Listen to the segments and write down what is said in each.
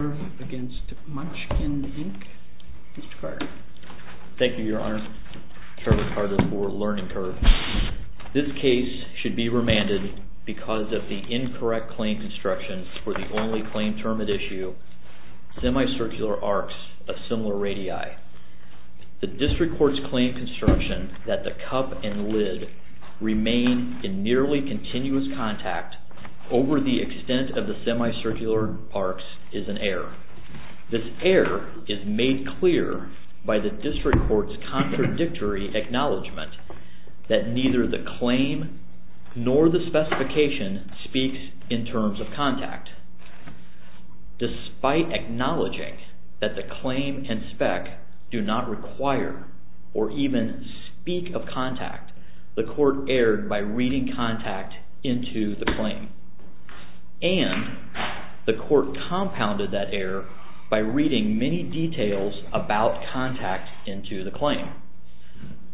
INC. Mr. Carter. Thank you, Your Honor. Trevor Carter for LEARNING CURVE. This case should be remanded because of the incorrect claim construction for the only claim term at issue, semicircular arcs of similar radii. The district court's claim construction that the cup and lid remain in nearly continuous contact over the extent of the semicircular arcs is an error. This error is made clear by the district court's contradictory acknowledgment that neither the claim nor the specification speaks in terms of contact. Despite acknowledging that the claim and spec do not require or even speak of contact, the court erred by that error by reading many details about contact into the claim.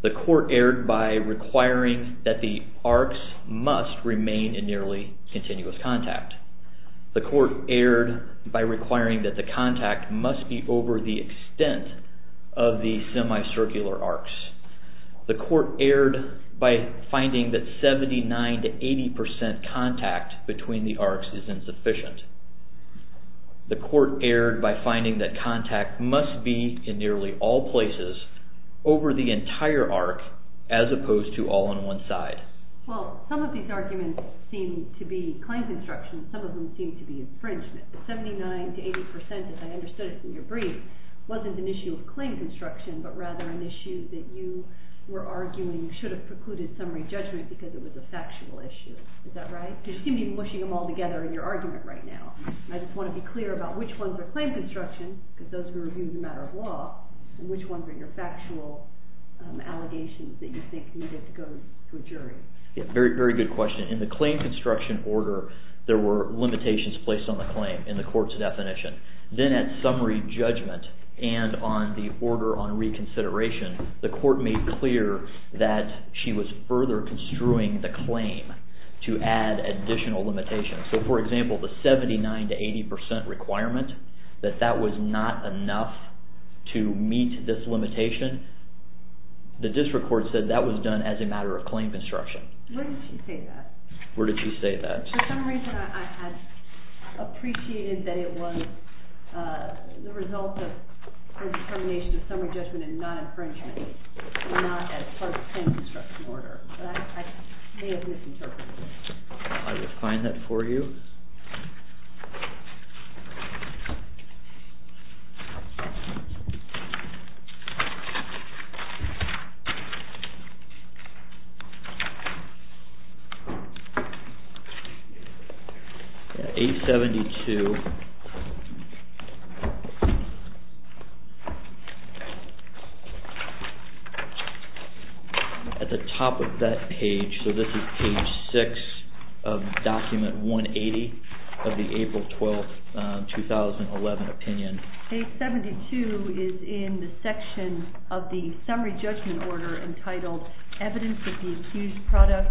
The court erred by requiring that the arcs must remain in nearly continuous contact. The court erred by requiring that the contact must be over the extent of the semicircular arcs. The court erred by finding that 79-80% contact between the arcs is insufficient. The court erred by finding that contact must be in nearly all places over the entire arc as opposed to all on one side. Well, some of these arguments seem to be claim construction, some of them seem to be infringement. The 79-80%, as I understood it from your brief, wasn't an issue of claim construction but rather an issue that you were arguing should have precluded summary judgment because it was a factual issue. Is that right? You seem to be mushing them all together in your argument right now. I just want to be clear about which ones are claim construction, because those were reviewed as a matter of law, and which ones are your factual allegations that you think needed to go to a jury. Very good question. In the claim construction order, there were limitations placed on the consideration. The court made clear that she was further construing the claim to add additional limitations. For example, the 79-80% requirement, that that was not enough to meet this limitation, the district court said that was done as a matter of claim construction. Where did she say that? Where did she say that? For some reason I had appreciated that it was the result of her determination of summary judgment and not infringement, and not as part of the claim construction order, but I may have misinterpreted it. I will find that for you. Page 72. At the top of that page, so this is page 6 of document 180 of the April 12, 2011 opinion. Page 72 is in the section of the summary judgment order entitled, Evidence of the Accused Product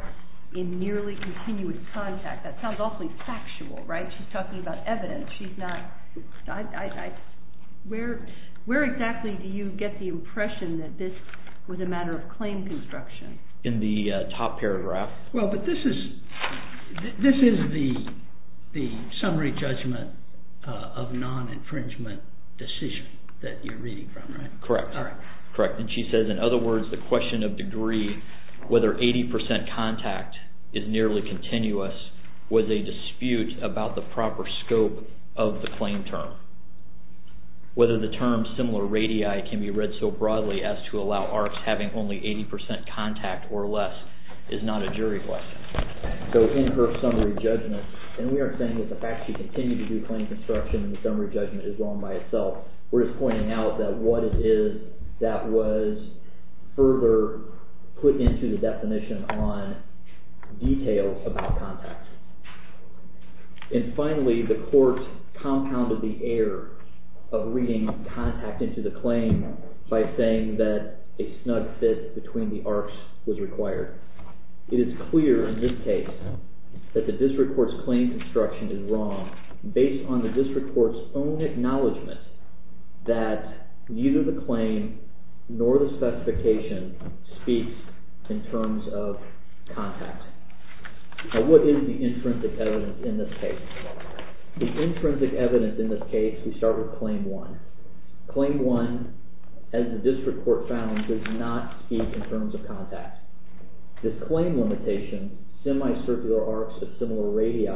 in Nearly Continuous Contact. That sounds awfully factual, right? She's talking about evidence. Where exactly do you get the impression that this was a matter of claim construction? In the top paragraph. Well, but this is the summary judgment of non-infringement decision that you're reading from, right? Correct. And she says, in other words, the question of degree, whether 80% contact is nearly continuous, was a dispute about the proper scope of the claim term. Whether the term similar radii can be read so broadly as to allow ARCs having only 80% contact or less is not a jury question. So in her summary judgment, and we are saying that the fact she continued to do claim construction in the summary judgment is wrong by itself. We're just pointing out that what it is that was further put into the definition on details about contact. And finally, the court compounded the error of reading contact into the claim by saying that a snug fit between the ARCs was required. It is clear in this case that the district court's claim construction is wrong based on the district court's own acknowledgment that neither the claim nor the specification speaks in terms of contact. Now what is the intrinsic evidence in this case? The intrinsic evidence in this case, we start with Claim 1. Claim 1, as the district court found, does not speak in terms of contact. This claim limitation, semi-circular arcs of similar radii,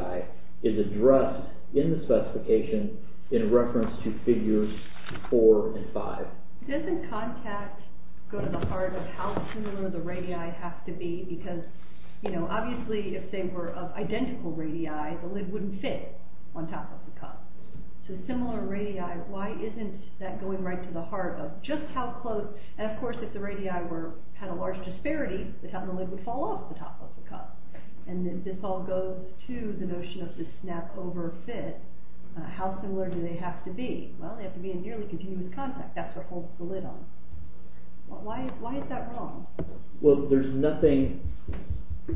is addressed in the specification in reference to figures 4 and 5. Doesn't contact go to the heart of how similar the radii have to be? Because obviously if they were of identical radii, the lid wouldn't fit on top of the cup. So similar radii, why isn't that going right to the heart of just how close, and of course if the radii had a large disparity, the top of the lid would fall off the top of the cup. And this all goes to the notion of the snap over fit. How similar do they have to be? Well, they have to be in nearly continuous contact. That's what holds the lid on. Why is that wrong? Well, there's nothing in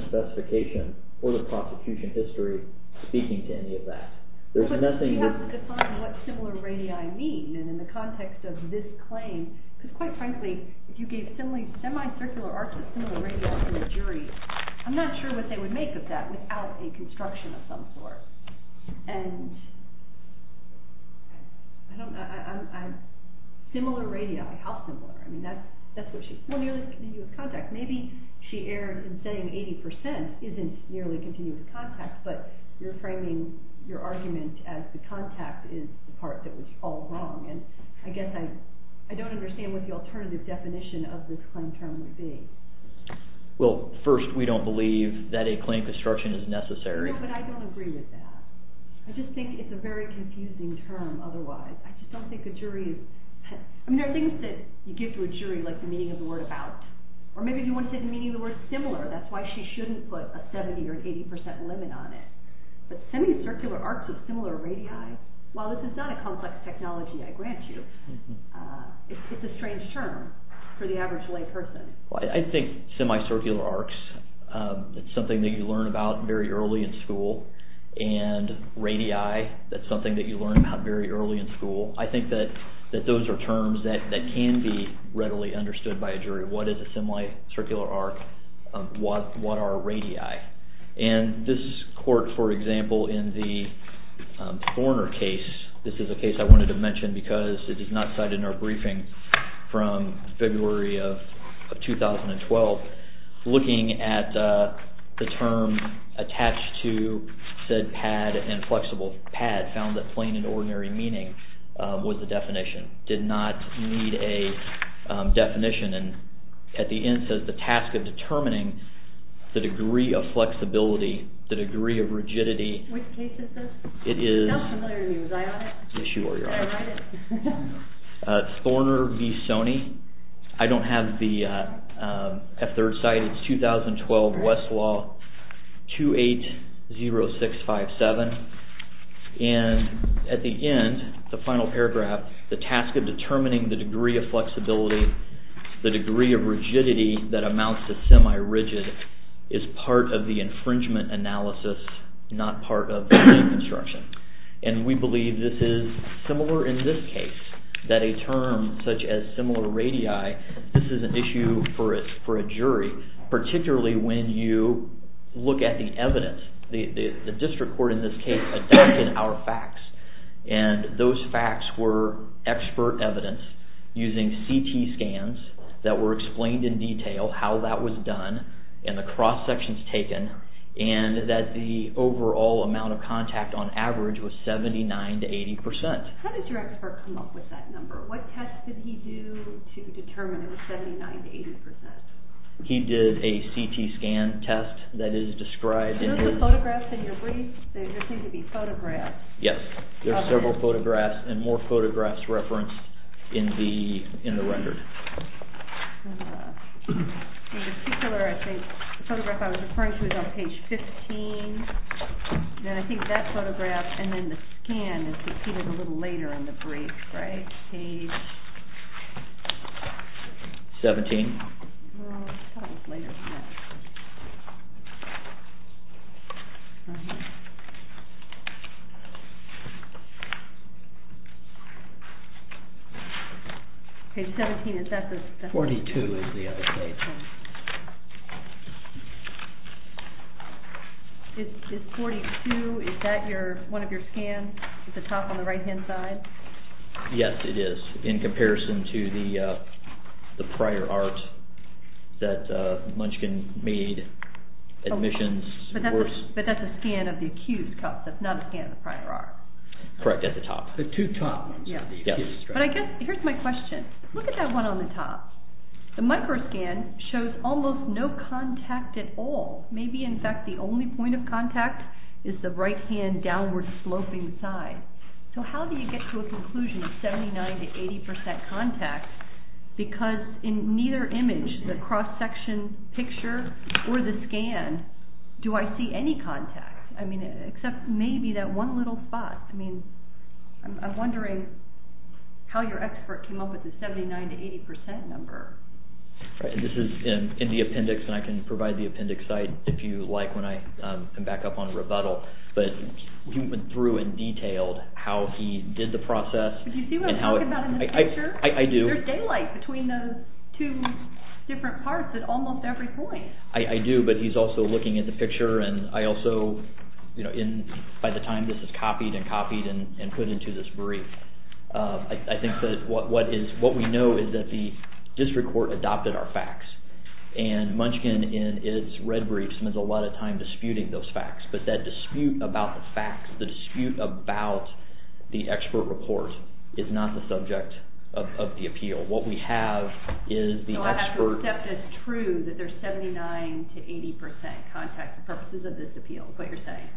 the specification or the prosecution history speaking to any of that. But you have to define what similar radii mean in the context of this claim. Because quite frankly, if you gave semi-circular arcs of similar radii to a jury, I'm not sure what they would make of that without a construction of some sort. Similar radii, how similar? Well, nearly continuous contact. Maybe she erred in saying 80% isn't nearly continuous contact, but you're framing your argument as the contact is the part that was all wrong. And I guess I don't understand what the alternative definition of this claim term would be. Well, first, we don't believe that a claim construction is necessary. No, but I don't agree with that. I just think it's a very confusing term otherwise. I just don't think a jury is... I mean, there are things that you give to a jury, like the meaning of the word about. Or maybe you want to say the meaning of the word similar. That's why she shouldn't put a 70% or an 80% limit on it. But semi-circular arcs of similar radii, while this is not a complex technology, I grant you, it's a strange term for the average layperson. I think semi-circular arcs, it's something that you learn about very early in school. And radii, that's something that you learn about very early in school. I think that those are terms that can be readily understood by a jury. What is a semi-circular arc? What are radii? And this court, for example, in the Horner case, this is a case I wanted to mention because it is not cited in our briefing from February of 2012, looking at the term attached to said pad and flexible pad found that plain and ordinary meaning was the definition. It did not need a definition. And at the end it says the task of determining the degree of flexibility, the degree of rigidity. Which case is this? It is... It sounds familiar to me. Was I on it? Yes, you were. Oh, I did. Thorner v. Soney. I don't have the third side. It's 2012 Westlaw 280657. And at the end, the final paragraph, the task of determining the degree of flexibility, the degree of rigidity that amounts to semi-rigid is part of the infringement analysis, not part of the deconstruction. And we believe this is similar in this case, that a term such as similar radii, this is an issue for a jury, particularly when you look at the evidence. The district court in this case adapted our facts. And those facts were expert evidence using CT scans that were explained in detail how that was done and the cross-sections taken and that the overall amount of contact on average was 79 to 80%. How did your expert come up with that number? What test did he do to determine it was 79 to 80%? He did a CT scan test that is described in his... Are those the photographs in your brief? Those seem to be photographs. Yes, there are several photographs and more photographs referenced in the record. In particular, I think the photograph I was referring to is on page 15. And I think that photograph and then the scan is repeated a little later in the brief, right? Page... 17. That was later than that. Okay. Page 17, is that the... 42 is the other page. Is 42, is that one of your scans at the top on the right-hand side? Yes, it is, in comparison to the prior art that Munchkin made, admissions... But that's a scan of the accused, not a scan of the prior art. Correct, at the top. But I guess, here's my question. Look at that one on the top. The micro scan shows almost no contact at all. Maybe, in fact, the only point of contact is the right-hand downward-sloping side. So how do you get to a conclusion of 79 to 80% contact? Because in neither image, the cross-section picture or the scan, do I see any contact? I mean, except maybe that one little spot. I mean, I'm wondering how your expert came up with the 79 to 80% number. This is in the appendix, and I can provide the appendix site if you like when I come back up on rebuttal. But he went through and detailed how he did the process... Do you see what I'm talking about in this picture? I do. There's daylight between those two different parts at almost every point. I do, but he's also looking at the picture and I also... By the time this is copied and copied and put into this brief, I think that what we know is that the district court adopted our facts. And Munchkin, in its red brief, spends a lot of time disputing those facts. But that dispute about the facts, is not the subject of the appeal. What we have is the expert... So you have to accept as true that there's 79 to 80% contact for purposes of this appeal, is what you're saying?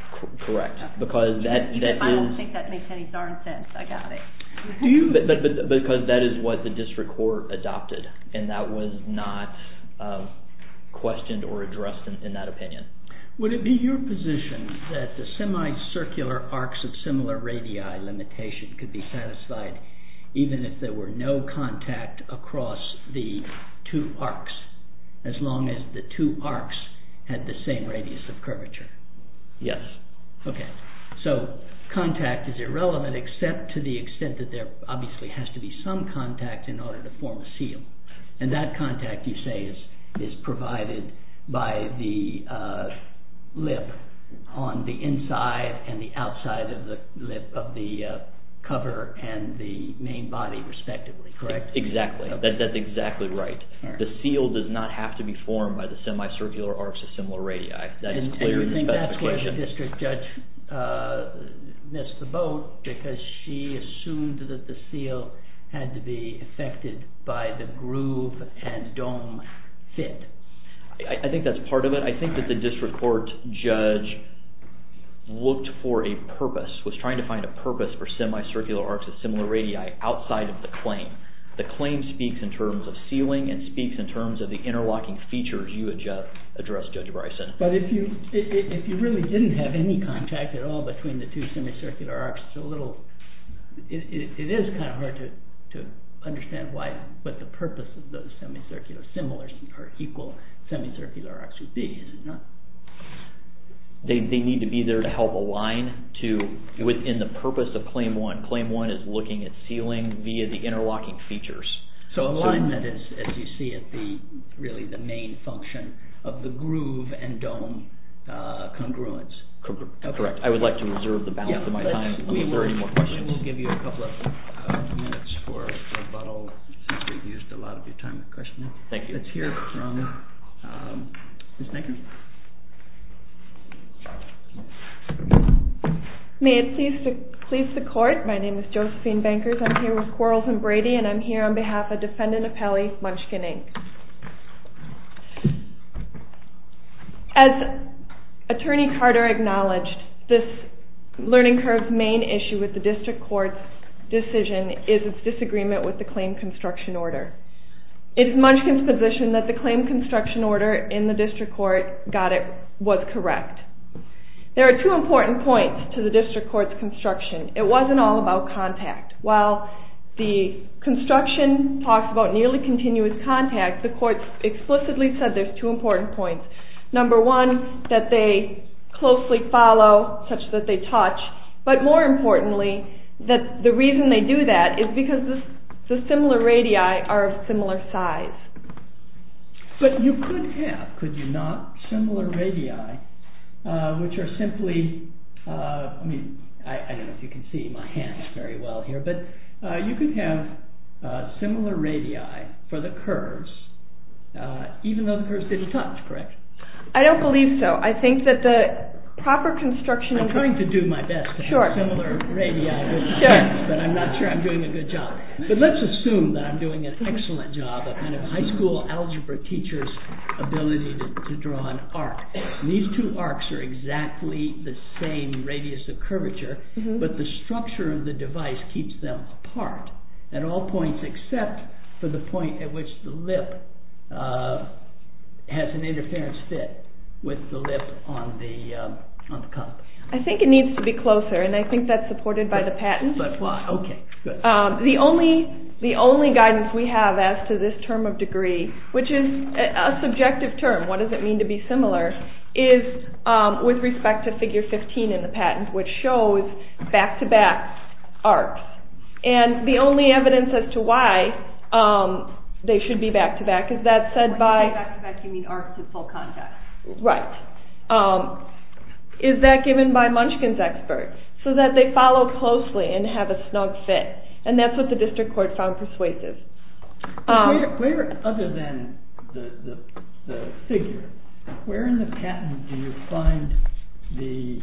Correct. I don't think that makes any darn sense. I got it. Because that is what the district court adopted. And that was not questioned or addressed in that opinion. Would it be your position that the semi-circular arcs of similar radii limitation could be satisfied even if there were no contact across the two arcs? As long as the two arcs had the same radius of curvature? Yes. So contact is irrelevant except to the extent that there obviously has to be some contact in order to form a seal. And that contact, you say, is provided by the lip on the inside and the outside of the cover and the main body respectively, correct? Exactly. That's exactly right. The seal does not have to be formed by the semi-circular arcs of similar radii. And you think that's where the district judge missed the boat because she assumed that the seal had to be affected by the groove and dome fit? I think that's part of it. I think that the district court judge looked for a purpose was trying to find a purpose for semi-circular arcs of similar radii outside of the claim. The claim speaks in terms of sealing and speaks in terms of the interlocking features you addressed, Judge Bryson. But if you really didn't have any contact at all between the two semi-circular arcs, it's a little... It is kind of hard to understand what the purpose of those semi-circular similar or equal semi-circular arcs would be, is it not? They need to be there to help align within the purpose of Claim 1. Claim 1 is looking at sealing via the interlocking features. So alignment is, as you see it, really the main function of the groove and dome congruence. Correct. I would like to reserve the balance of my time if there are any more questions. We will give you a couple of minutes for rebuttal since we've used a lot of your time to question it. Let's hear from Ms. Nagin. May it please the Court, my name is Josephine Bankers, I'm here with Quarles and Brady and I'm here on behalf of Defendant Appelli Munchkin, Inc. As Attorney Carter acknowledged, this learning curve's main issue with the District Court's decision is its disagreement with the Claim Construction Order. It is Munchkin's position that the Claim Construction Order in the District Court got it... was correct. There are two important points to the District Court's construction. It wasn't all about contact. While the construction talks about nearly continuous contact, the Court explicitly said there's two important points. Number one, that they closely follow, such that they touch, but more importantly, that the reason they do that is because the similar radii are of similar size. But you could have, could you not, similar radii which are simply, I mean, I don't know if you can see my hands very well here, but you could have similar radii for the curves, even though the curves didn't touch, correct? I don't believe so. I think that the proper construction... I'm trying to do my best to have similar radii, but I'm not sure I'm doing a good job. But let's assume that I'm doing an excellent job of high school algebra teacher's ability to draw an arc. These two arcs are exactly the same radius of curvature, but the structure of the device keeps them apart at all points except for the point at which the lip has an interference fit with the lip on the cup. I think it needs to be closer, and I think that's supported by the patent. But why? Okay, good. The only guidance we have as to this term of degree, which is a subjective term, what does it mean to be similar, is with respect to figure 15 in the patent, which shows back-to-back arcs. And the only evidence as to why they should be back-to-back is that said by... When you say back-to-back, you mean arcs in full context. Right. Is that given by Munchkin's experts, so that they follow closely and have a snug fit? And that's what the district court found persuasive. Other than the figure, where in the patent do you find the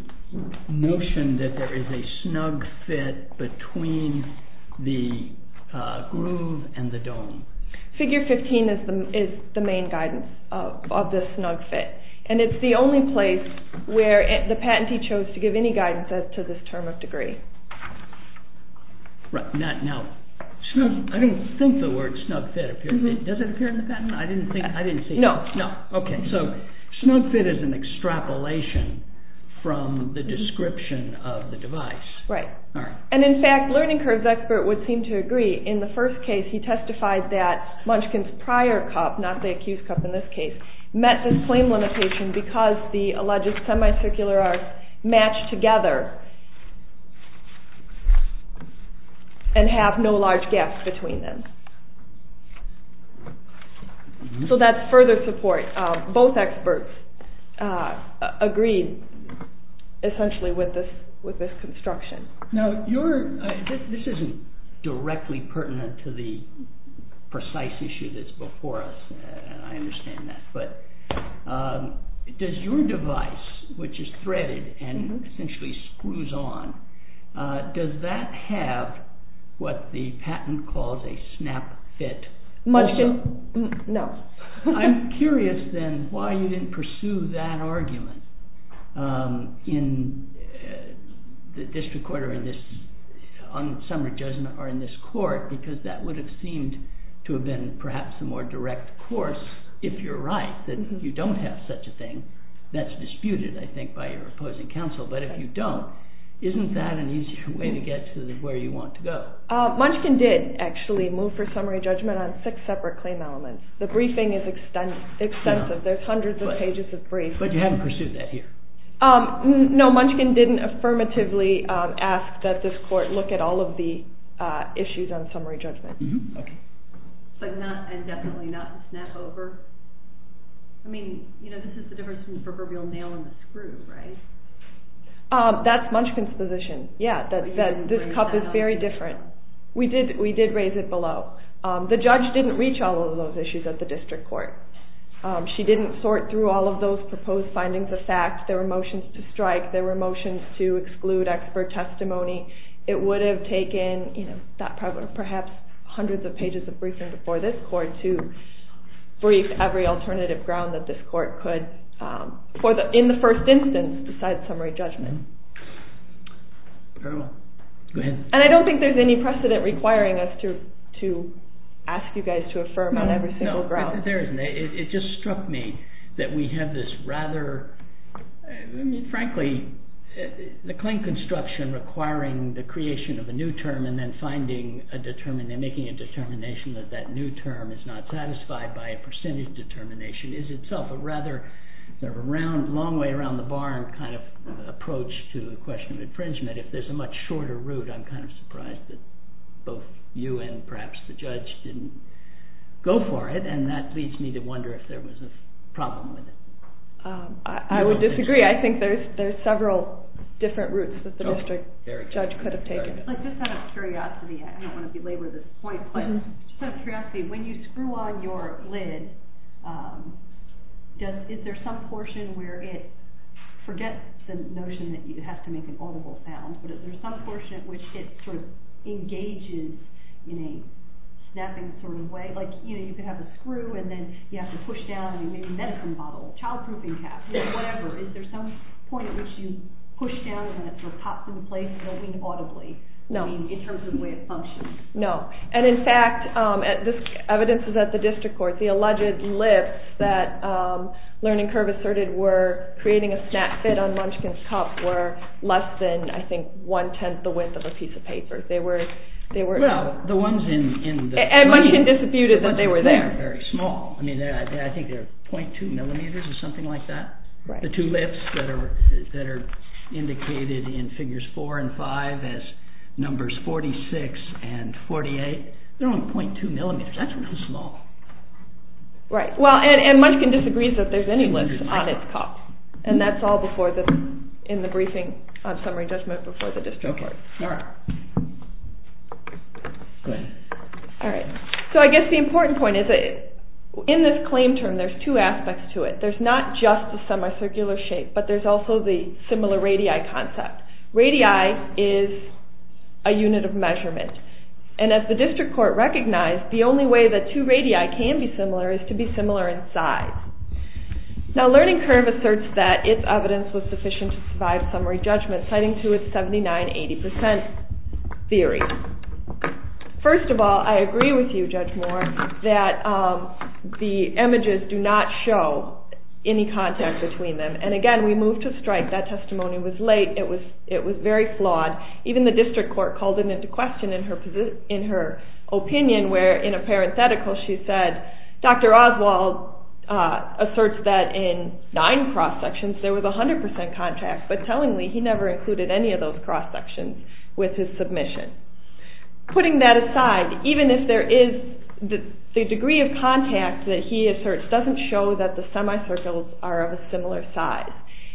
notion that there is a snug fit between the groove and the dome? Figure 15 is the main guidance of this snug fit. And it's the only place where the patentee chose to give any guidance as to this term of degree. Right. Now, I don't think the word snug fit... Does it appear in the patent? No. So, snug fit is an extrapolation from the description of the device. And in fact, Learning Curve's expert would seem to agree. In the first case, he testified that Munchkin's prior cup, not the accused cup in this case, met this claim limitation because the alleged semicircular arcs matched together. And have no large gaps between them. So that's further support. Both experts agreed essentially with this construction. This isn't directly pertinent to the precise issue that's before us. I understand that. Does your device, which is threaded and essentially screws on, does that have what the patent calls a snap fit? Munchkin? No. I'm curious, then, why you didn't pursue that argument in the district court or in this court because that would have seemed to have been perhaps a more direct course, if you're right, that you don't have such a thing that's disputed, I think, by your opposing counsel. But if you don't, isn't that an easier way to get to where you want to go? Munchkin did, actually, move for summary judgment on six separate claim elements. The briefing is extensive. There's hundreds of pages of briefs. But you haven't pursued that here? No, Munchkin didn't affirmatively ask that this court look at all of the issues on summary judgment. And definitely not snap over? I mean, this is the difference between that's Munchkin's position. Yeah, that this cup is very different. We did raise it below. The judge didn't reach all of those issues at the district court. She didn't sort through all of those proposed findings of fact. There were motions to strike. There were motions to exclude expert testimony. It would have taken, you know, perhaps hundreds of pages of briefing before this court to brief every alternative ground that this court could in the first instance decide summary judgment. And I don't think there's any precedent requiring us to ask you guys to affirm on every single ground. It just struck me that we have this rather frankly the claim construction requiring the creation of a new term and then making a determination that that new term is not satisfied by a percentage determination is itself a rather long way around the barn kind of approach to the question of infringement. If there's a much shorter route, I'm kind of surprised that both you and perhaps the judge didn't go for it. And that leads me to wonder if there was a problem with it. I would disagree. I think there's several different routes that the district judge could have taken. Just out of curiosity, I don't want to belabor this point, but just out of curiosity, when you screw on your lid, is there some portion where it forgets the notion that you have to make an audible sound, but is there some portion at which it sort of engages in a snapping sort of way? Like, you know, you could have a screw and then you have to push down and you make a medicine bottle, a child-proofing cap, you know, whatever. Is there some point at which you push down and it sort of pops into place, moving audibly, in terms of the way it functions? No. And in fact, this evidence is at the district court, the alleged lifts that Learning Curve asserted were creating a snap fit on Munchkin's cup were less than, I think, one-tenth the width of a piece of paper. They were... And Munchkin disputed that they were there. But they're very small. I think they're .2 millimeters or something like that. The two lifts that are indicated in figures four and five as numbers 46 and 48, they're only .2 millimeters. That's really small. Right. Well, and Munchkin disagrees that there's any lifts on its cup. And that's all in the briefing on summary judgment before the district court. Okay. All right. Go ahead. All right. So I guess the important point is in this claim term, there's two aspects to it. There's not just the semicircular shape, but there's also the similar radii concept. Radii is a unit of measurement. And as the district court recognized, the only way that two radii can be similar is to be similar in size. Now, Learning Curve asserts that its evidence was sufficient to survive summary judgment, citing to its 79-80% theory. First of all, I agree with you, Judge Moore, that the images do not show any contact between them. And again, we moved to a case where the testimony was late. It was very flawed. Even the district court called it into question in her opinion, where in a parenthetical she said, Dr. Oswald asserts that in nine cross-sections there was 100% contact. But tellingly, he never included any of those cross-sections with his submission. Putting that aside, even if there is the degree of contact that he asserts doesn't show that the semicircles are of a similar size.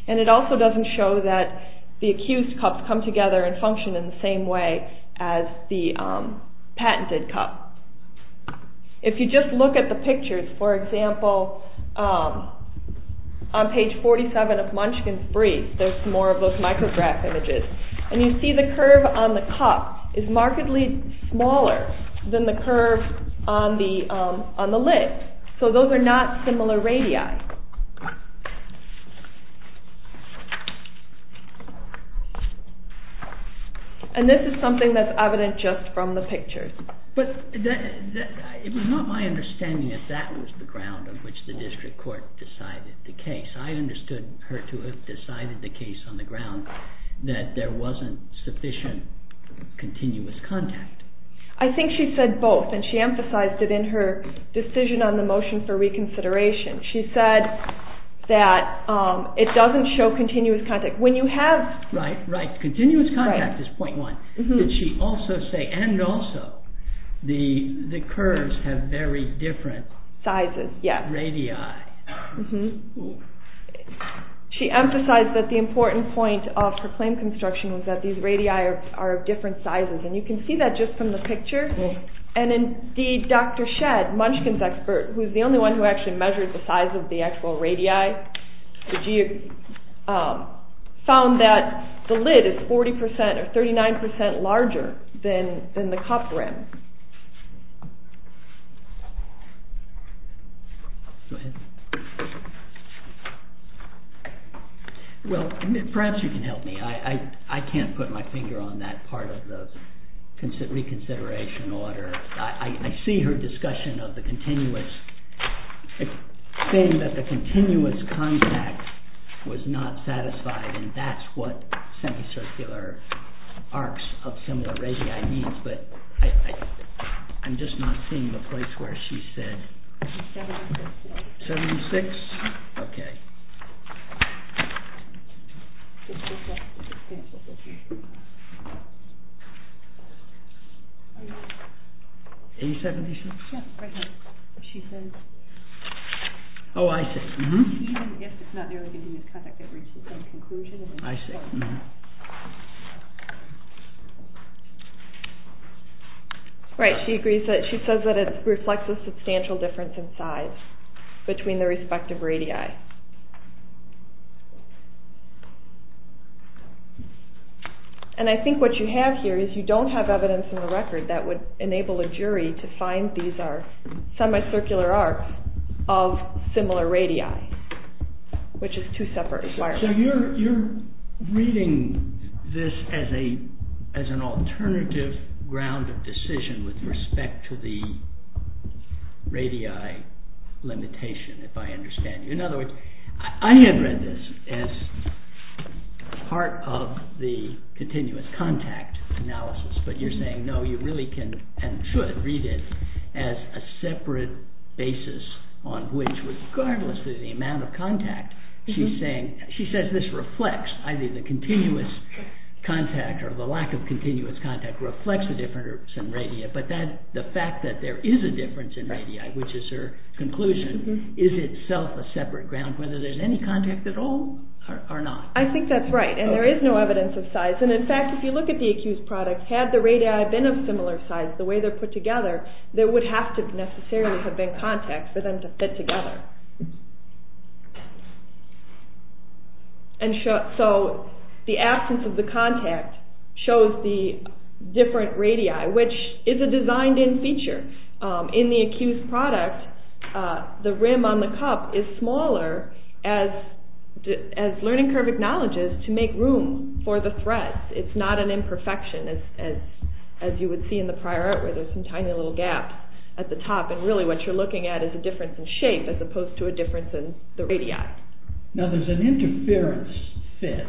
And it also doesn't show that the accused cups come together and function in the same way as the patented cup. If you just look at the pictures, for example, on page 47 of Munchkin's brief, there's more of those micrograph images, and you see the curve on the cup is markedly smaller than the curve on the lid. So those are not similar radii. And this is something that's evident just from the pictures. It was not my understanding that that was the ground on which the district court decided the case. I understood her to have decided the case on the ground continuous contact. I think she said both, and she emphasized it in her decision on the motion for reconsideration. She said that it doesn't show continuous contact. Right. Continuous contact is point one. And also, the curves have very different sizes. Radii. She emphasized that the important point of her claim construction was that these radii are of different sizes, and you can see that just from the picture. And indeed, Dr. Shedd, Munchkin's expert, who's the only one who actually measured the size of the actual radii, found that the lid is 40% or 39% larger than the cup rim. Well, perhaps you can help me. I can't put my finger on that part of the reconsideration order. I see her discussion of the continuous saying that the continuous contact was not satisfied, and that's what semicircular arcs of similar radii means, but I'm just not seeing the place where she said. 76? Okay. 876? Oh, I see. Right, she agrees that, she says that it reflects a substantial difference in size between the respective radii. And I think what you have here is you don't have evidence in the record that would enable a jury to find these are semicircular arcs of similar radii, which is two separate requirements. So you're reading this as an alternative ground of decision with respect to the radii limitation, if I understand you. In other words, I had read this as part of the continuous contact analysis, but you're saying no, you really can and should read it as a separate basis on which, regardless of the amount of contact, she says this reflects either the continuous contact or the lack of continuous contact reflects a difference in radii, but the fact that there is a difference in radii, which is her conclusion, is itself a separate ground whether there's any contact at all or not. I think that's right, and there is no evidence of size, and in fact, if you look at the accused product, had the radii been of similar size, the way they're put together, there would have to necessarily have been contact for them to fit together. So the absence of the contact shows the different radii, which is a designed-in feature. In the accused product, the rim on the cup is smaller as Learning Curve acknowledges to make room for the threads. It's not an imperfection as you would see in the prior art where there's some tiny little gaps at the top, and really what you're looking at is a difference in shape as opposed to a difference in the radii. Now there's an interference fit,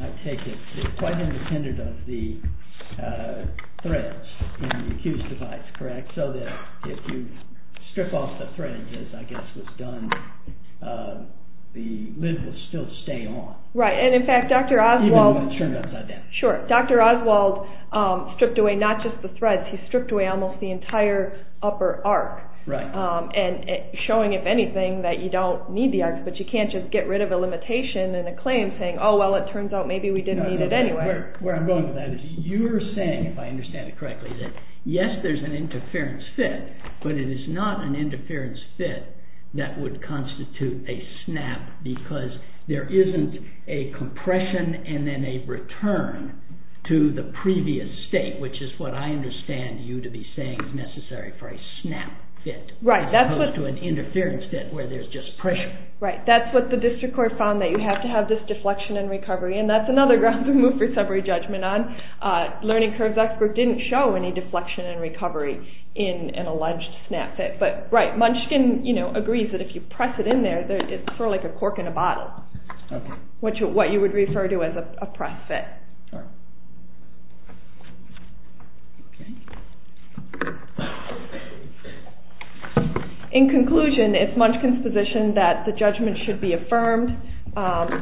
I take it, quite independent of the threads in the accused device, correct, so that if you strip off the threads, as I guess was done, the lid will still stay on. Right, and in fact, Dr. Oswald stripped away not just the threads, he stripped away almost the entire upper arc, showing, if anything, that you don't need the arc, but you can't just get rid of a limitation and a claim saying, oh well, it turns out maybe we didn't need it anyway. You're saying, if I understand it correctly, that yes, there's an interference fit, but it is not an interference fit that would constitute a snap because there isn't a compression and then a return to the previous state, which is what I understand you to be saying is necessary for a snap fit, as opposed to an interference fit where there's just pressure. Right, that's what the district court found, that you have to have this deflection and recovery, and that's another ground to move for summary judgment on. Learning Curves expert didn't show any deflection and recovery in an alleged snap fit. But, right, Munchkin agrees that if you press it in there, it's sort of like a cork in a bottle, what you would refer to as a press fit. In conclusion, it's Munchkin's position that the judgment should be affirmed,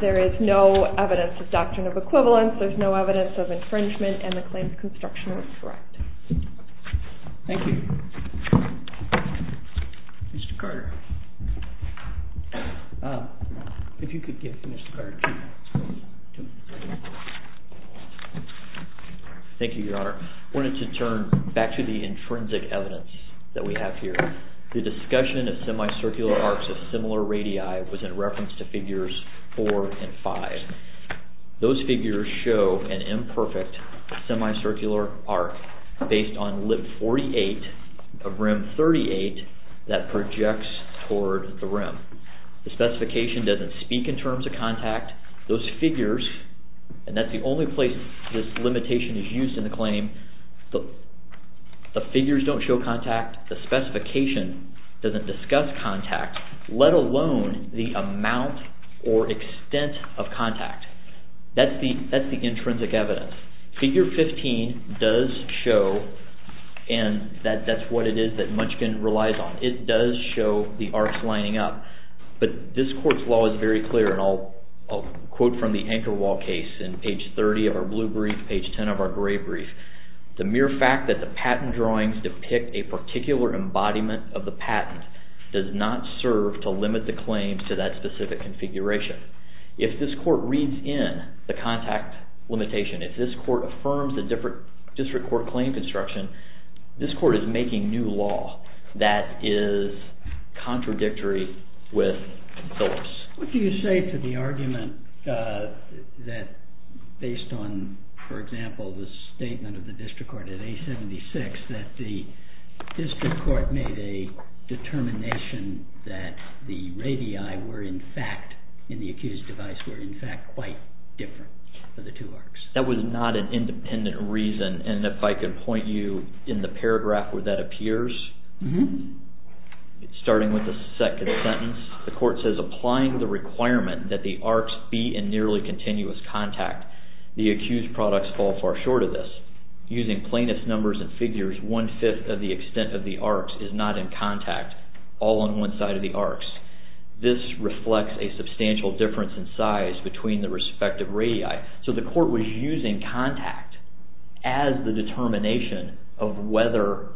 there is no evidence of doctrine of equivalence, there's no evidence of infringement, and the claims construction are correct. Thank you. Mr. Carter. If you could give Mr. Carter two seconds. Thank you, Your Honor. I wanted to turn back to the intrinsic evidence that we have here. The discussion of semicircular arcs of similar radii was in reference to figures four and five. Those figures show an imperfect semicircular arc based on lip 48 of rim 38 that projects toward the rim. The specification doesn't speak in terms of contact, those figures, and that's the only place this limitation is used in the claim, the figures don't show contact, the specification doesn't discuss contact, let alone the amount or extent of contact. That's the intrinsic evidence. Figure 15 does show, and that's what it is that Munchkin relies on, it does show the arcs lining up, but this court's law is very clear, and I'll quote from the anchor wall case in page 30 of our blue brief, page 10 of our gray brief. The mere fact that the patent drawings depict a particular embodiment of the patent does not serve to limit the claims to that specific configuration. If this court reads in the contact limitation, if this court affirms a different district court claim construction, this court is making new law that is contradictory with Phillips. What do you say to the argument that based on, for example, the statement of the district court at A-76, that the district court made a determination that the radii were in fact in the accused device were in fact quite different for the two arcs? That was not an independent reason and if I could point you in the paragraph where that appears, starting with the second sentence, the court says, applying the requirement that the arcs be in nearly continuous contact, the accused products fall far short of this. Using plainest numbers and figures, one-fifth of the extent of the arcs is not in contact all on one side of the arcs. This reflects a substantial difference in size between the respective radii. So the court was using contact as the determination of whether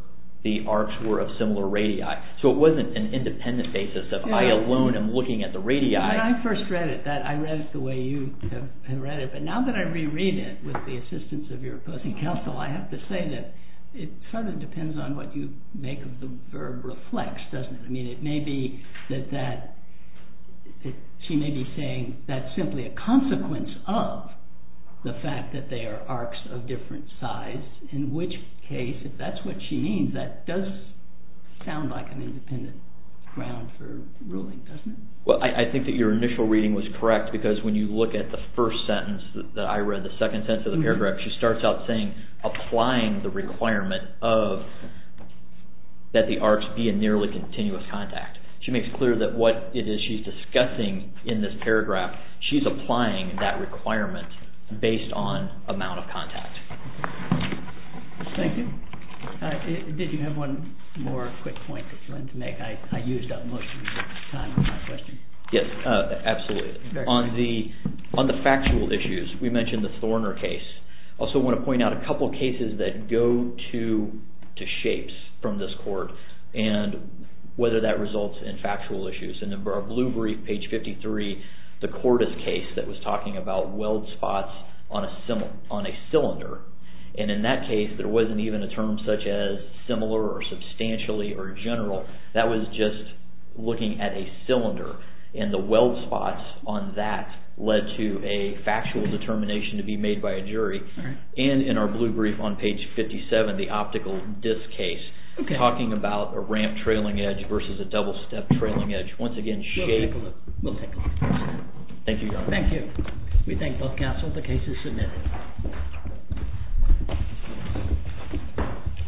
the arcs were of similar radii. So it wasn't an independent basis of I alone am looking at the radii. When I first read it, I read it the way you have read it, but now that I reread it with the assistance of your opposing counsel, I have to say that it sort of depends on what you reflect, doesn't it? I mean, it may be that she may be saying that's simply a consequence of the fact that they are arcs of different size, in which case if that's what she means, that does sound like an independent ground for ruling, doesn't it? Well, I think that your initial reading was correct because when you look at the first sentence that I read, the second sentence of the paragraph, she starts out saying, applying the requirement of that the arcs be a nearly continuous contact. She makes clear that what it is she's discussing in this paragraph, she's applying that requirement based on amount of contact. Thank you. Did you have one more quick point that you wanted to make? I used up most of your time on my question. Yes, absolutely. On the factual issues, we mentioned the Thorner case. I also want to point out a couple of cases that go to shapes from this court. Whether that results in factual issues. In our blue brief, page 53, the Cordis case that was talking about weld spots on a cylinder. In that case, there wasn't even a term such as similar or substantially or general. That was just looking at a cylinder. The weld spots on that led to a factual determination to be made by a jury. In our blue brief on page 57, the optical disk case talking about a ramp trailing edge versus a double step trailing edge. Once again, shape. Thank you. Thank you. We thank both counsel. The case is submitted.